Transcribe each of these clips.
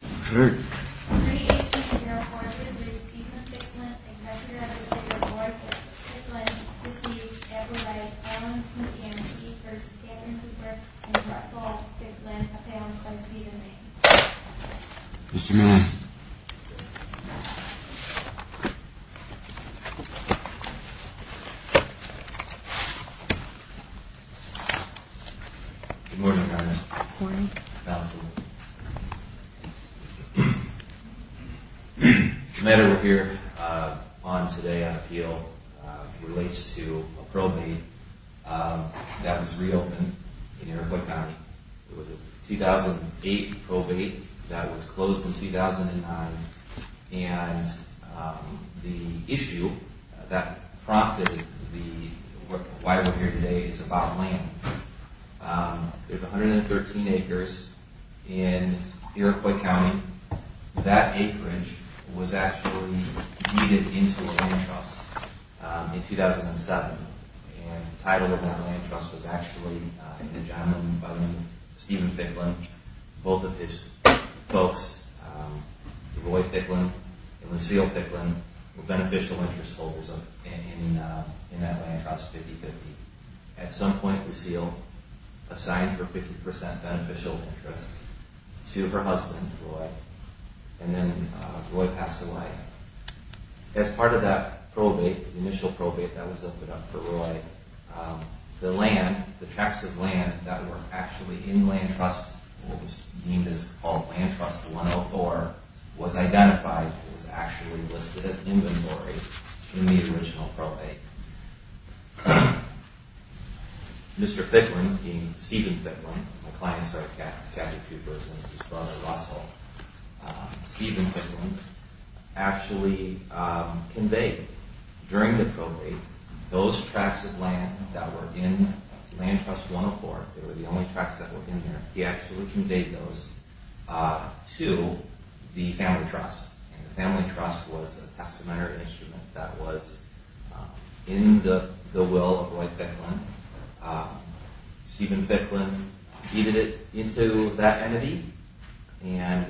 Pre-1804 v. Stephen Ficklin, a capture of the city of Norfolk, Ficklin, deceives Edward I. Collins, a guarantee v. Cameron Cooper, and Russell Ficklin, a found sub-sea domain. Mr. Miller. Good morning, Madam. Good morning. Council. The matter we're here on today, I feel, relates to a probate that was reopened in Iroquois County. It was a 2008 probate that was closed in 2009 and the issue that prompted the, why we're here today is about land. There's 113 acres in Iroquois County. That acreage was actually deeded into a land trust in 2007. And the title of that land trust was actually, and John and Steven Ficklin, both of his folks, Roy Ficklin and Lucille Ficklin, were beneficial interest holders in that land trust 50-50. At some point Lucille assigned her 50% beneficial interest to her husband, Roy, and then Roy passed away. As part of that probate, the initial probate that was opened up for Roy, the land, the tracts of land that were actually in land trust, what was deemed as called land trust 104, was identified and was actually listed as inventory in the original probate. Mr. Ficklin, Steven Ficklin, my client's right, Kathy Cooper, and his brother Russell, Steven Ficklin actually conveyed during the probate those tracts of land that were in land trust 104, they were the only tracts that were in there, he actually conveyed those to the family trust. And the family trust was a testamentary instrument that was in the will of Roy Ficklin. Steven Ficklin deeded it into that entity and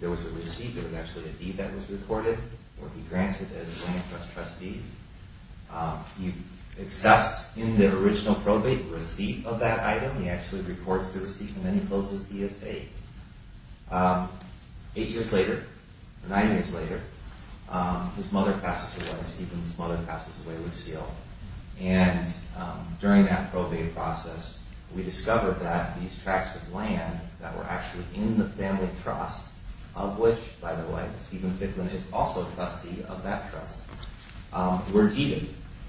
there was a receipt, there was actually a deed that was recorded, where he grants it as land trust trustee, he accepts in the original probate receipt of that item, he actually records the receipt and then he closes PSA. Eight years later, nine years later, his mother passes away, Steven's mother passes away, Lucille. And during that probate process, we discovered that these tracts of land that were actually in the family trust, of which, by the way, Steven Ficklin is also trustee of that trust, were deeded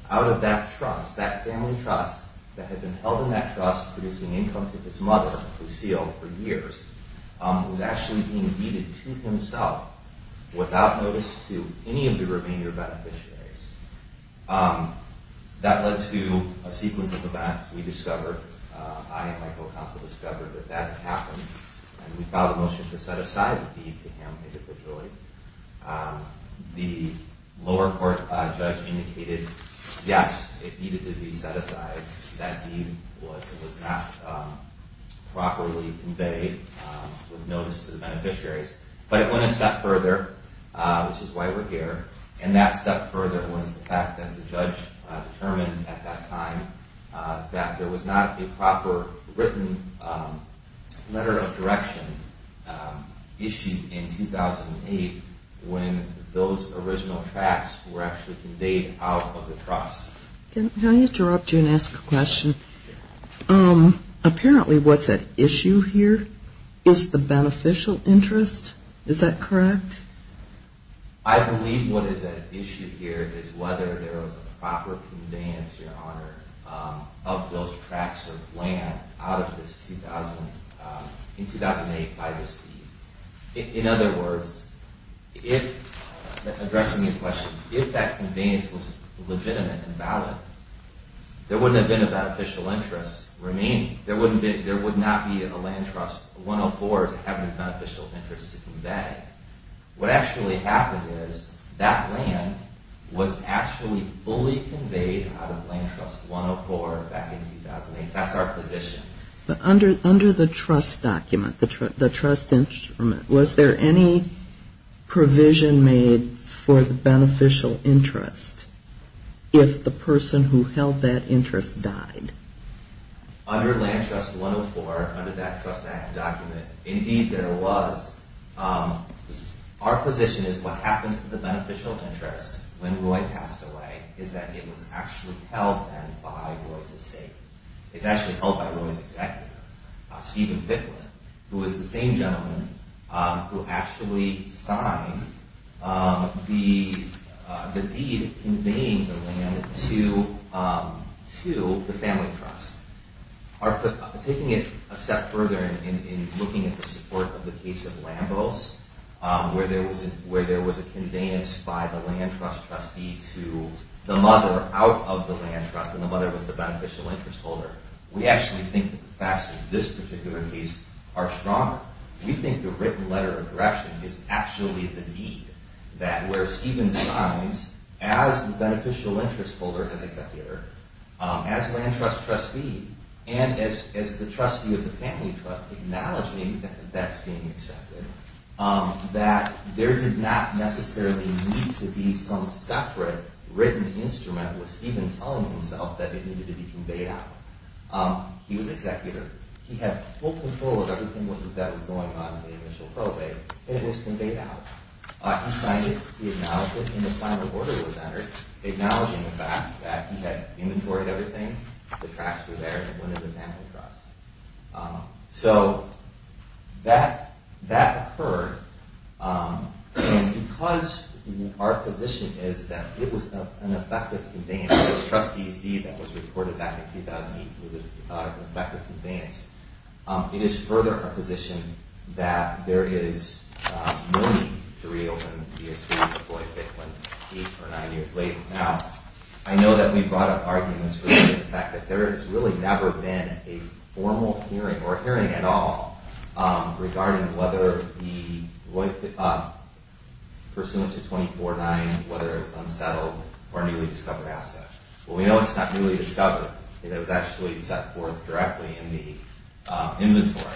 out of that trust, that family trust that had been held in that trust producing income to his mother, Lucille, for years, was actually being deeded to himself without notice to any of the remainder beneficiaries. That led to a sequence of events. I and my co-counsel discovered that that had happened and we filed a motion to set aside the deed to him individually. The lower court judge indicated, yes, it needed to be set aside. That deed was not properly conveyed with notice to the beneficiaries. But it went a step further, which is why we're here. And that step further was the fact that the judge determined at that time that there was not a proper written letter of direction issued in 2008 when those original tracts were actually conveyed out of the trust. Can I interrupt you and ask a question? Apparently what's at issue here is the beneficial interest, is that correct? I believe what is at issue here is whether there was a proper conveyance, Your Honor, of those tracts of land out of this in 2008 by this deed. In other words, addressing your question, if that conveyance was legitimate and valid, there wouldn't have been a beneficial interest remaining. There would not be a land trust 104 to have a beneficial interest to convey. What actually happened is that land was actually fully conveyed out of land trust 104 back in 2008. That's our position. But under the trust document, the trust instrument, was there any provision made for the beneficial interest if the person who held that interest died? Under land trust 104, under that trust document, indeed there was. Our position is what happens to the beneficial interest when Roy passed away is that it was actually held then by Roy's estate. It's actually held by Roy's executor, Stephen Fitland, who is the same gentleman who actually signed the deed conveying the land to the family trust. Taking it a step further in looking at the support of the case of Lambos, where there was a conveyance by the land trust trustee to the mother out of the land trust, and the mother was the beneficial interest holder. We actually think the facts of this particular case are stronger. We think the written letter of correction is actually the deed, that where Stephen signs as the beneficial interest holder, as executor, as land trust trustee, and as the trustee of the family trust acknowledging that that's being accepted, that there did not necessarily need to be some separate written instrument with Stephen telling himself that it needed to be conveyed out. He was executor. He had full control of everything that was going on in the initial probate, and it was conveyed out. He signed it, he acknowledged it, and the final order was entered acknowledging the fact that he had inventoried everything, the tracts were there, and it went to the family trust. So that occurred, and because our position is that it was an effective conveyance, the trustee's deed that was reported back in 2008 was an effective conveyance, it is further our position that there is no need to reopen the estate before it went eight or nine years late. Now, I know that we brought up arguments for the fact that there has really never been a formal hearing or hearing at all regarding whether the, pursuant to 24-9, whether it's unsettled or newly discovered asset. Well, we know it's not newly discovered. It was actually set forth directly in the inventory.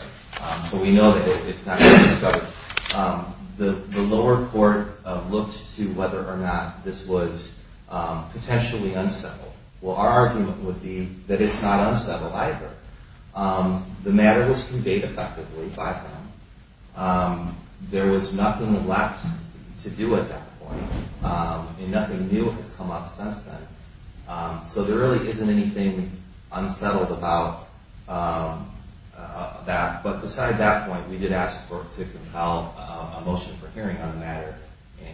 So we know that it's not newly discovered. The lower court looked to whether or not this was potentially unsettled. Well, our argument would be that it's not unsettled either. The matter was conveyed effectively by them. There was nothing left to do at that point, and nothing new has come up since then. So there really isn't anything unsettled about that. But beside that point, we did ask for it to compel a motion for hearing on the matter,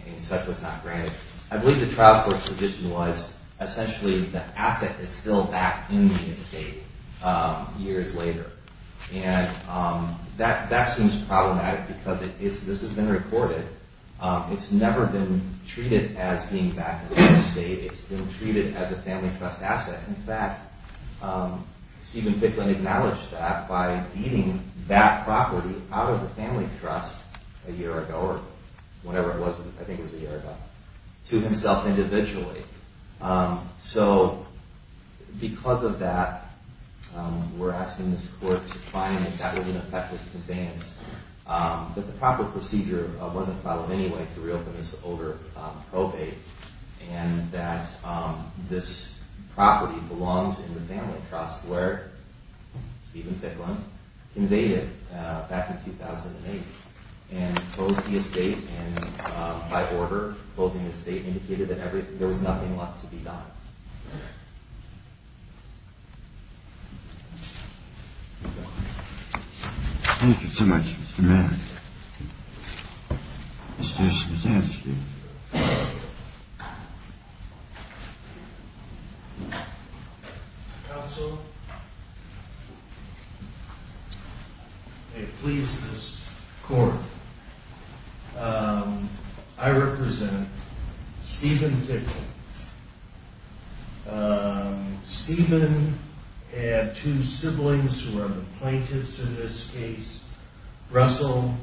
and such was not granted. I believe the trial court's position was, essentially, the asset is still back in the estate years later. And that seems problematic because this has been reported. It's never been treated as being back in the estate. It's been treated as a Family Trust asset. In fact, Stephen Bicklin acknowledged that by deeding that property out of the Family Trust a year ago or whenever it was. I think it was a year ago. To himself individually. So because of that, we're asking this court to find if that was an effective conveyance. But the proper procedure wasn't followed anyway to reopen this over probate, and that this property belongs in the Family Trust, where Stephen Bicklin conveyed it back in 2008 and closed the estate by order, closing the estate, indicated that there was nothing left to be done. Thank you so much, Mr. Mayor. Mr. Schmidtski. Counsel, I please this court. I represent Stephen Bicklin. Stephen had two siblings who are the plaintiffs in this case. Russell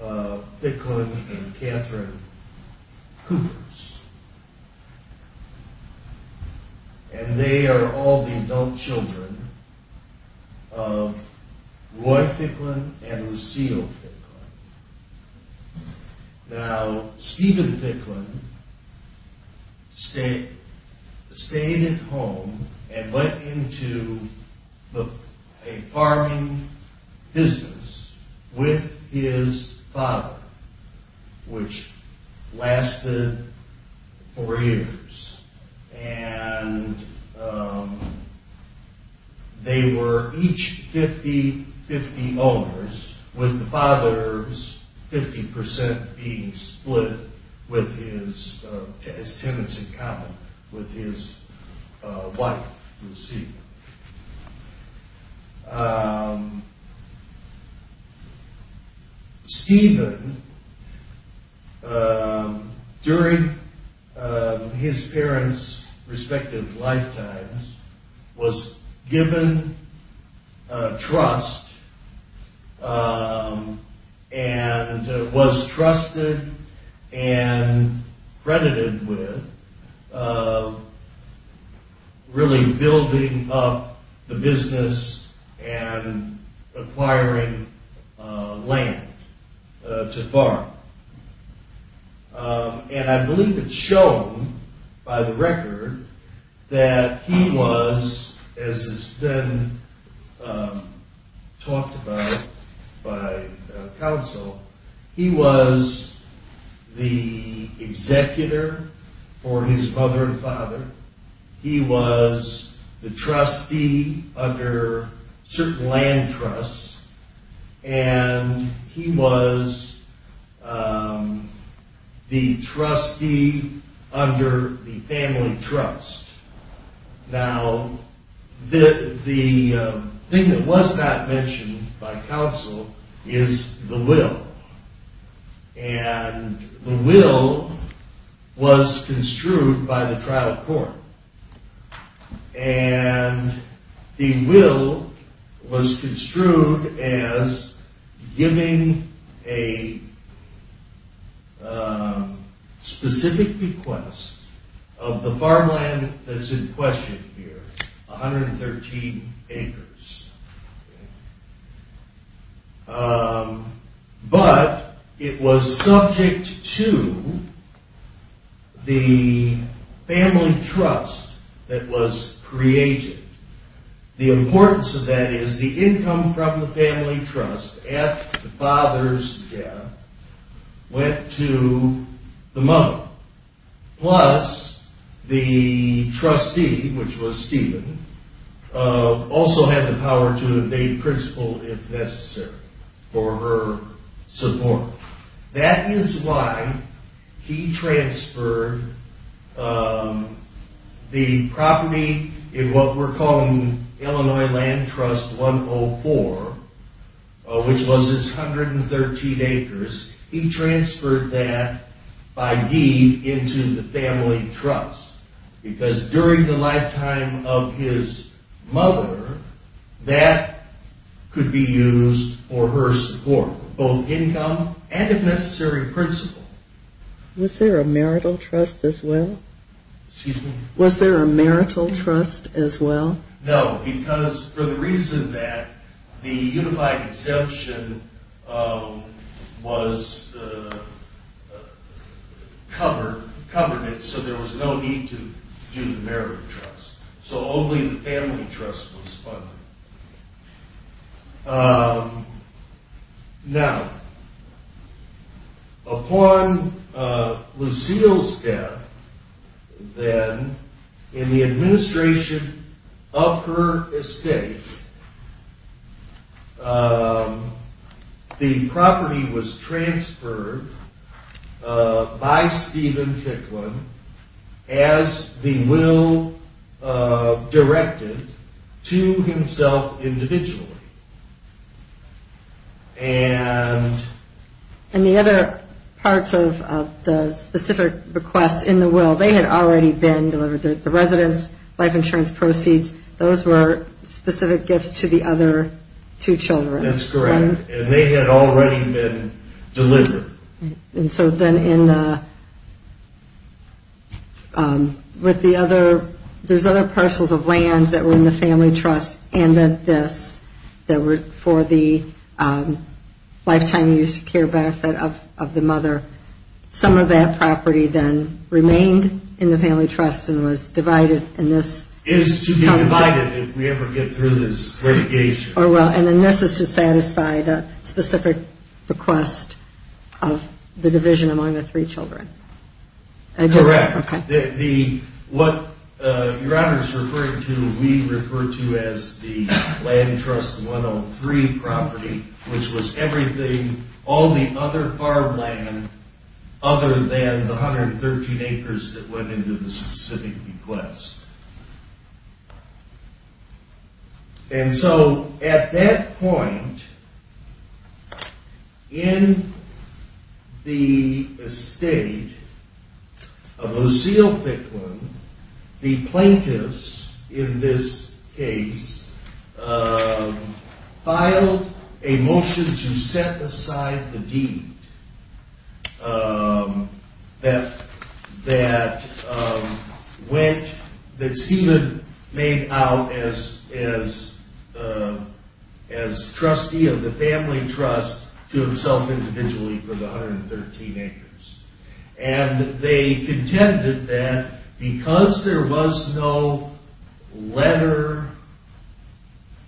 Bicklin and Catherine Coopers. And they are all the adult children of Roy Bicklin and Lucille Bicklin. Now, Stephen Bicklin stayed at home and went into a farming business with his father, which lasted four years. And they were each 50-50 owners, with the father's 50% being split as tenants in common with his wife, Lucille. Stephen, during his parents' respective lifetimes, was given trust and was trusted and credited with really building up the business and acquiring land to farm. And I believe it's shown by the record that he was, as has been talked about by counsel, he was the executor for his mother and father. He was the trustee under certain land trusts. And he was the trustee under the family trust. Now, the thing that was not mentioned by counsel is the will. And the will was construed by the trial court. And the will was construed as giving a specific request of the farmland that's in question here, 113 acres. But it was subject to the family trust that was created. The importance of that is the income from the family trust, after the father's death, went to the mother. Plus, the trustee, which was Stephen, also had the power to evade principle if necessary for her support. That is why he transferred the property in what we're calling Illinois Land Trust 104, which was his 113 acres, he transferred that by deed into the family trust. Because during the lifetime of his mother, that could be used for her support, both income and, if necessary, principle. Was there a marital trust as well? Excuse me? Was there a marital trust as well? No, because for the reason that the unified exemption covered it, so there was no need to do the marital trust. So only the family trust was funded. Now, upon Lucille's death, then, in the administration of her estate, the property was transferred by Stephen Picklin as the will directed to himself individually. And the other parts of the specific requests in the will, they had already been delivered. The residence, life insurance proceeds, those were specific gifts to the other two children. That's correct. And they had already been delivered. And so then in the other, there's other parcels of land that were in the family trust and at this, that were for the lifetime use care benefit of the mother. Some of that property then remained in the family trust and was divided in this. It is to be divided if we ever get through this litigation. Oh, well, and then this is to satisfy the specific request of the division among the three children. Correct. What Your Honor is referring to, we refer to as the land trust 103 property, which was everything, all the other farmland, other than the 113 acres that went into the specific request. And so at that point, in the estate of Lucille Bicklin, the plaintiffs in this case, filed a motion to set aside the deed that went, that Stephen made out as trustee of the family trust to himself individually for the 113 acres. And they contended that because there was no letter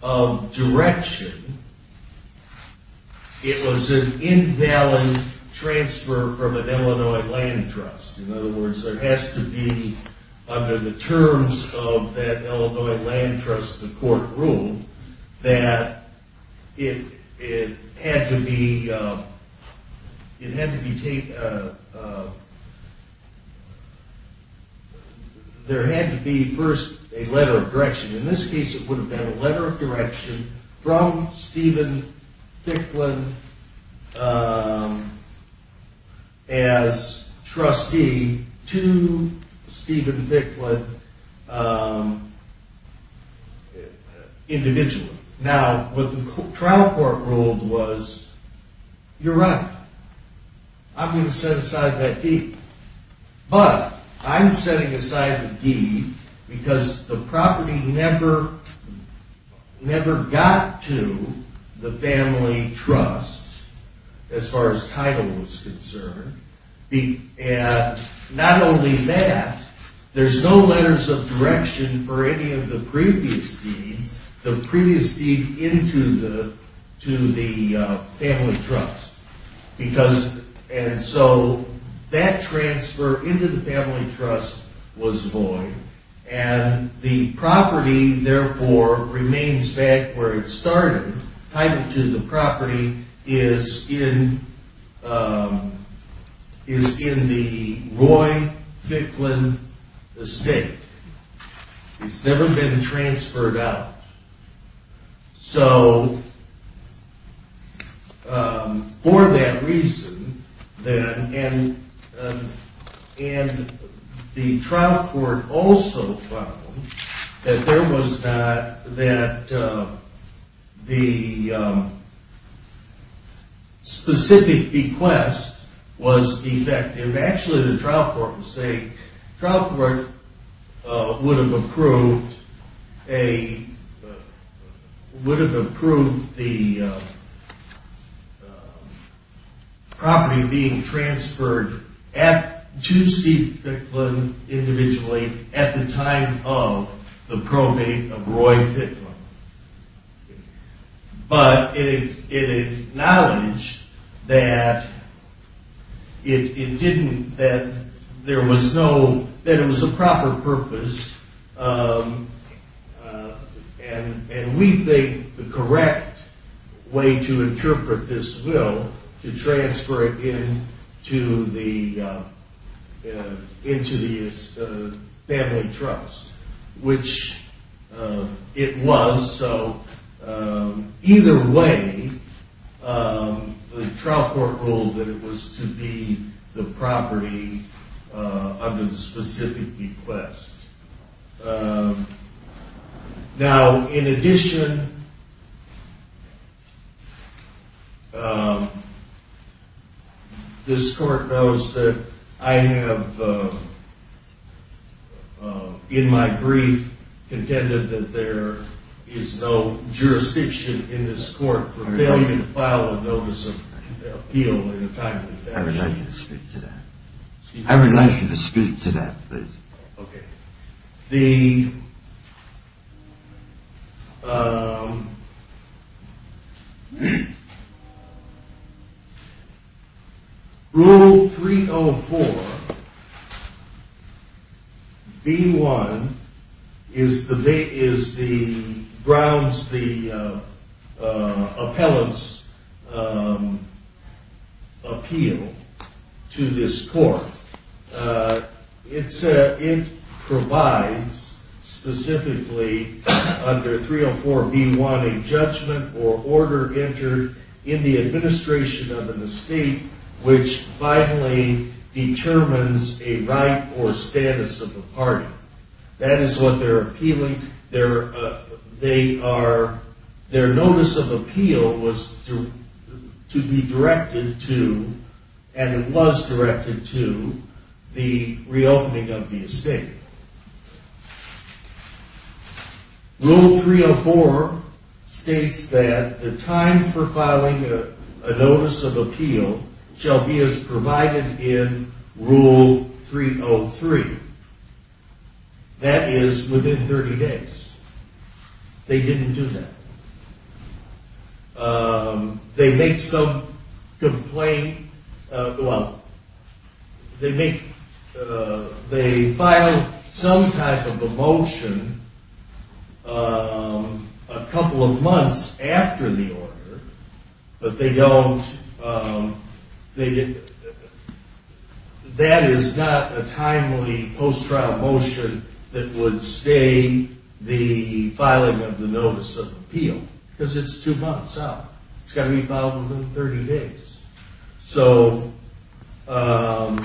of direction, it was an invalid transfer from an Illinois land trust. In other words, there has to be under the terms of that Illinois land trust, the court ruled that it had to be, In this case, it would have been a letter of direction from Stephen Bicklin as trustee to Stephen Bicklin individually. Now, what the trial court ruled was, Your Honor, I'm going to set aside that deed, but I'm setting aside the deed because the property never got to the family trust as far as title was concerned. And not only that, there's no letters of direction for any of the previous deeds, the previous deed into the family trust. And so that transfer into the family trust was void and the property, therefore, remains back where it started. Title II, the property is in the Roy Bicklin estate. It's never been transferred out. So for that reason, and the trial court also found that there was not, that the specific request was defective. Actually, the trial court would say, trial court would have approved the property being transferred to Steve Bicklin individually at the time of the probate of Roy Bicklin. But it acknowledged that it didn't, that there was no, that it was a proper purpose. And we think the correct way to interpret this will to transfer it into the family trust, which it was. So either way, the trial court ruled that it was to be the property under the specific request. Now, in addition, this court knows that I have, in my brief, contended that there is no jurisdiction in this court for failing to file a notice of appeal at the time of the transaction. I would like you to speak to that. I would like you to speak to that, please. Okay. The, Rule 304, B1 is the, is the, grounds the appellant's appeal to this court. It said, it provides specifically under 304 B1, a judgment or order entered in the administration of an estate which violently determines a right or status of the party. That is what they're appealing. They are, their notice of appeal was to, to be directed to, and it was directed to, the reopening of the estate. Rule 304 states that the time for filing a notice of appeal shall be as provided in Rule 303. That is within 30 days. They didn't do that. They make some complaint, well, they make, they file some type of a motion a couple of months after the order, but they don't, that is not a timely post-trial motion that would stay the filing of the notice of appeal because it's two months out. It's got to be filed within 30 days. So, so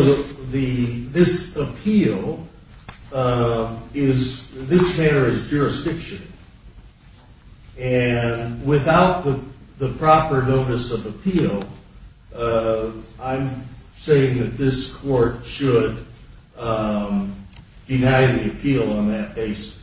this appeal is, this matter is jurisdiction. And without the proper notice of appeal, I'm saying that this court should deny the appeal on that basis.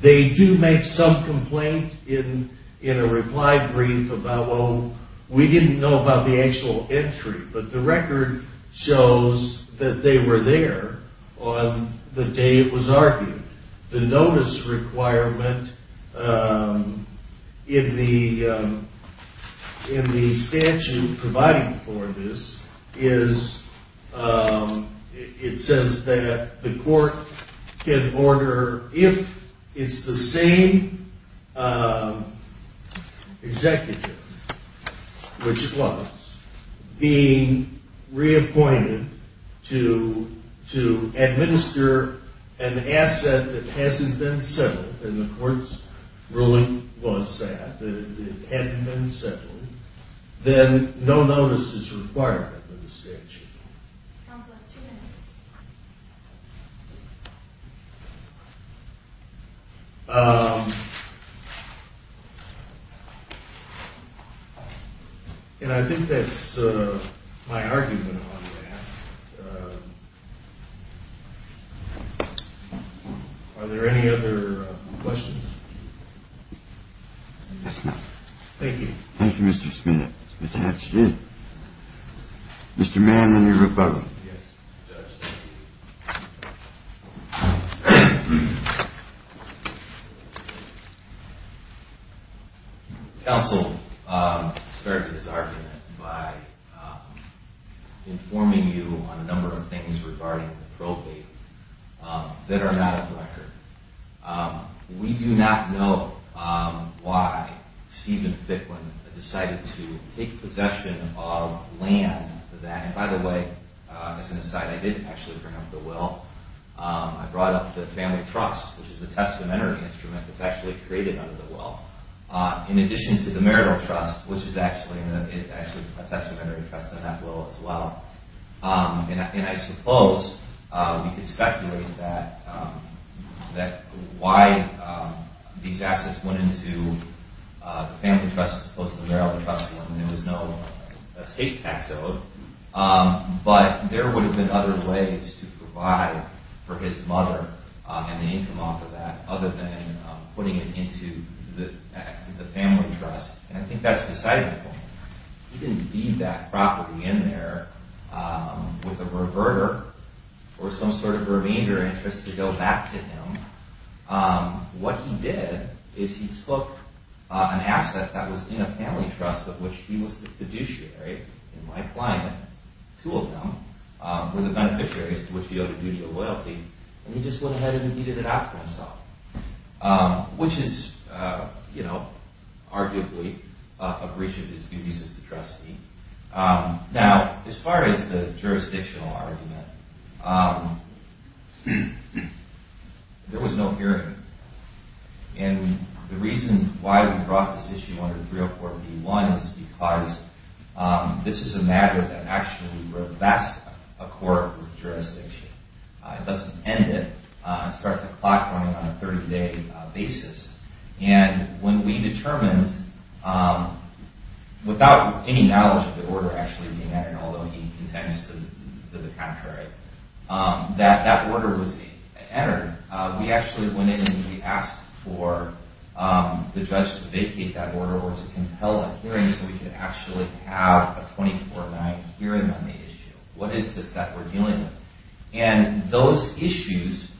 They do make some complaint in a reply brief about, well, we didn't know about the actual entry, but the record shows that they were there on the day it was argued. The notice requirement in the, in the statute providing for this is, it says that the court can order if it's the same executive, which it was, being reappointed to, to administer an asset that hasn't been settled, and the court's ruling was that, that it hadn't been settled, then no notice is required in the statute. It sounds like two minutes. Um, and I think that's my argument on that. Are there any other questions? Yes, ma'am. Thank you. Thank you, Mr. Smith. Mr. Hatch, too. Mr. Mann and your rebuttal. Yes, Judge. Thank you. Counsel, started this argument by informing you on a number of things regarding the probate that are not on the record. We do not know why Stephen Fickman decided to take possession of land that, and by the way, as an aside, I did actually bring up the will. I brought up the family trust, which is a testamentary instrument that's actually created under the will, in addition to the marital trust, which is actually, is actually a testamentary trust in that will as well. And I suppose we could speculate that, that why these assets went into the family trust as opposed to the marital trust when there was no escape tax owed. But there would have been other ways to provide for his mother and the income off of that other than putting it into the family trust. And I think that's decidedly wrong. He didn't deed back properly in there with a reverter or some sort of remainder interest to go back to him. What he did is he took an asset that was in a family trust of which he was the fiduciary in my client. Two of them were the beneficiaries to which he owed a duty of loyalty. And he just went ahead and deeded it out for himself. Which is, you know, arguably, a breach of his duties as the trustee. Now, as far as the jurisdictional argument, there was no hearing. And the reason why we brought this issue under 304 B.1 is because this is a matter that actually revests a court jurisdiction. It doesn't end it. It starts the clock running on a 30-day basis. And when we determined without any knowledge of the order actually being entered, although he contends to the contrary, that that order was entered, we actually went in and we asked for the judge to vacate that order or to compel a hearing so we could actually have a 24-9 hearing on the issue. What is this that we're dealing with? And those issues,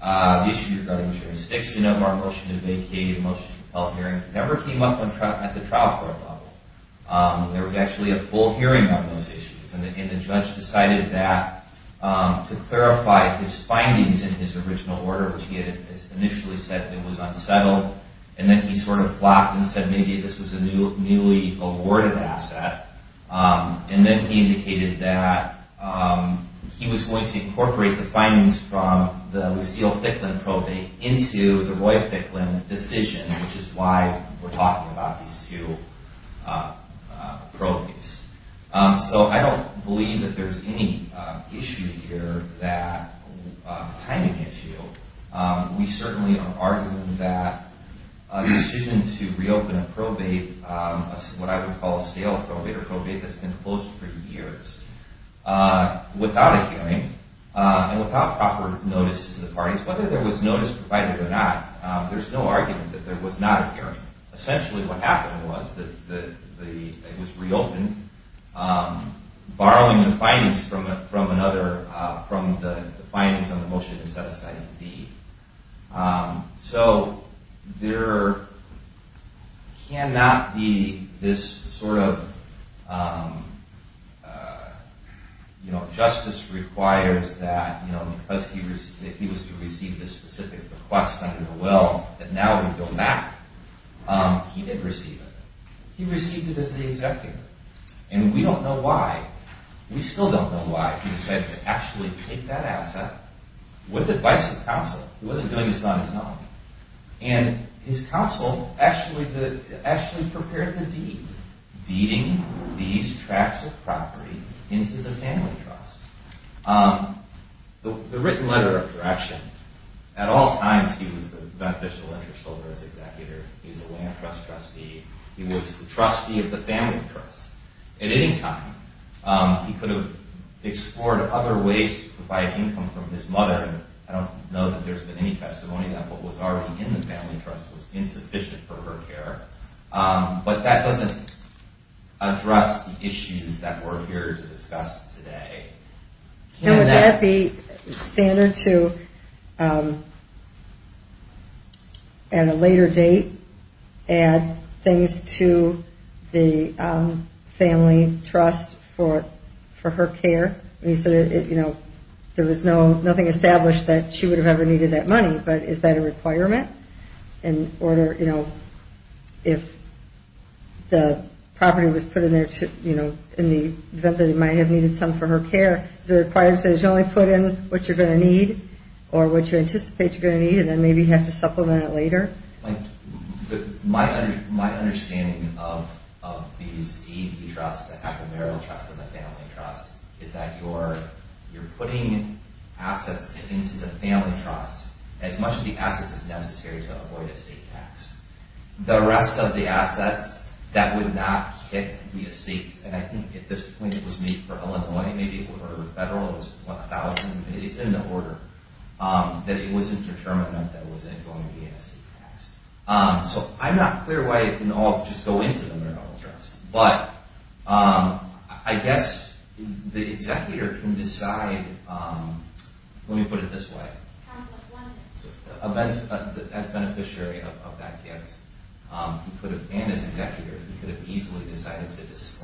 the issue regarding jurisdiction of our motion to vacate and motion to compel hearing, never came up at the trial court level. There was actually a full hearing on those issues. And the judge decided that to clarify his findings in his original order, which he had initially said it was unsettled, and then he sort of flopped and said maybe this was a newly awarded asset, and then he indicated that he was going to incorporate the findings from the Lucille Ficklin probate into the Roy Ficklin decision, which is why we're talking about these two probates. So I don't believe that there's any issue here that, timing issue. We certainly are arguing that the decision to reopen a probate, what I would call a scale probate or probate that's been closed for years without a hearing and without proper notice to the parties, whether there was notice provided or not, there's no argument that there was not a hearing. Essentially, what happened was that it was reopened borrowing the findings from another, from the findings on the motion set aside in D. So, there cannot be this sort of um, uh, you know, justice requires that, you know, because he was to receive this specific request under the will that now would go back, um, he did receive it. He received it as the executive. And we don't know why, we still don't know why he decided to actually take that asset with advice from counsel. He wasn't doing this on his own. And his counsel actually, actually prepared the deed. Deeding these tracts of property into the family trust. Um, the written letter of direction, at all times he was the beneficial interest holder as executive, he was the land trust trustee, he was the trustee of trust. And he explored other ways to provide income from his mother. I don't know that there's been any testimony that what was already in the family trust was insufficient for her care. Um, but that doesn't address the issues that we're here to discuss today. Can that be standard to, um, at a later date, add things to the, um, family trust for, for her care? And he said, you know, there was no, nothing established that she would have ever needed that money, but is that a requirement in order, you know, if the property was put in there to, you know, in the event that it might have needed some for her care, is it required to say she only put in what you're going to need or what you anticipate you're going to need and then maybe you have to supplement it later? Like, my, my understanding of, of these is that I think at this point it was made for Illinois, maybe it would have been federal, it was 1,000, it's in the order, um, that it wasn't determined that it wasn't going to be a state tax. Um, so I'm not clear why it can all just go into the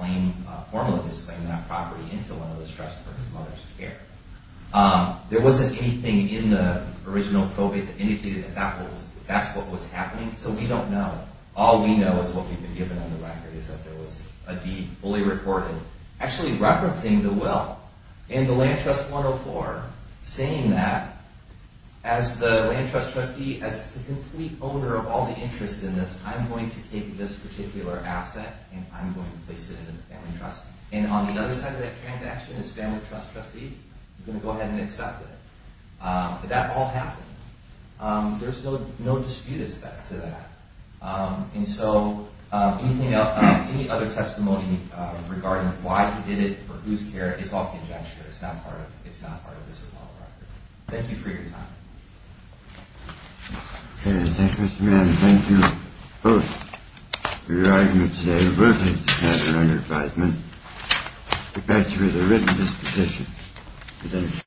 and then formally disclaim that property into one of those trusts for his mother's care. Um, there wasn't anything in the original probate that indicated that that's what was happening, so we don't know. All we know is what we've been given on the record is that there was a deed fully reported actually referencing the will. And the land trust trustee as the complete owner of all the interest in this, I'm going to take this particular asset and I'm going to place it in the family trust. And on the other side of that transaction is family trust trustee, I'm going to go ahead and accept it. Um, but that all happened. Um, there's no dispute as to that. Um, and so um, anything else, any other testimony regarding why he did it or whose care, it's all conjecture. It's not part of it's not part of this at all. Thank you for your time. Okay, thank you Mr. Mann, and thank you both for your argument today. We're going to have another five minutes. Get back to me with a written disposition. Thank you. Thank you very much.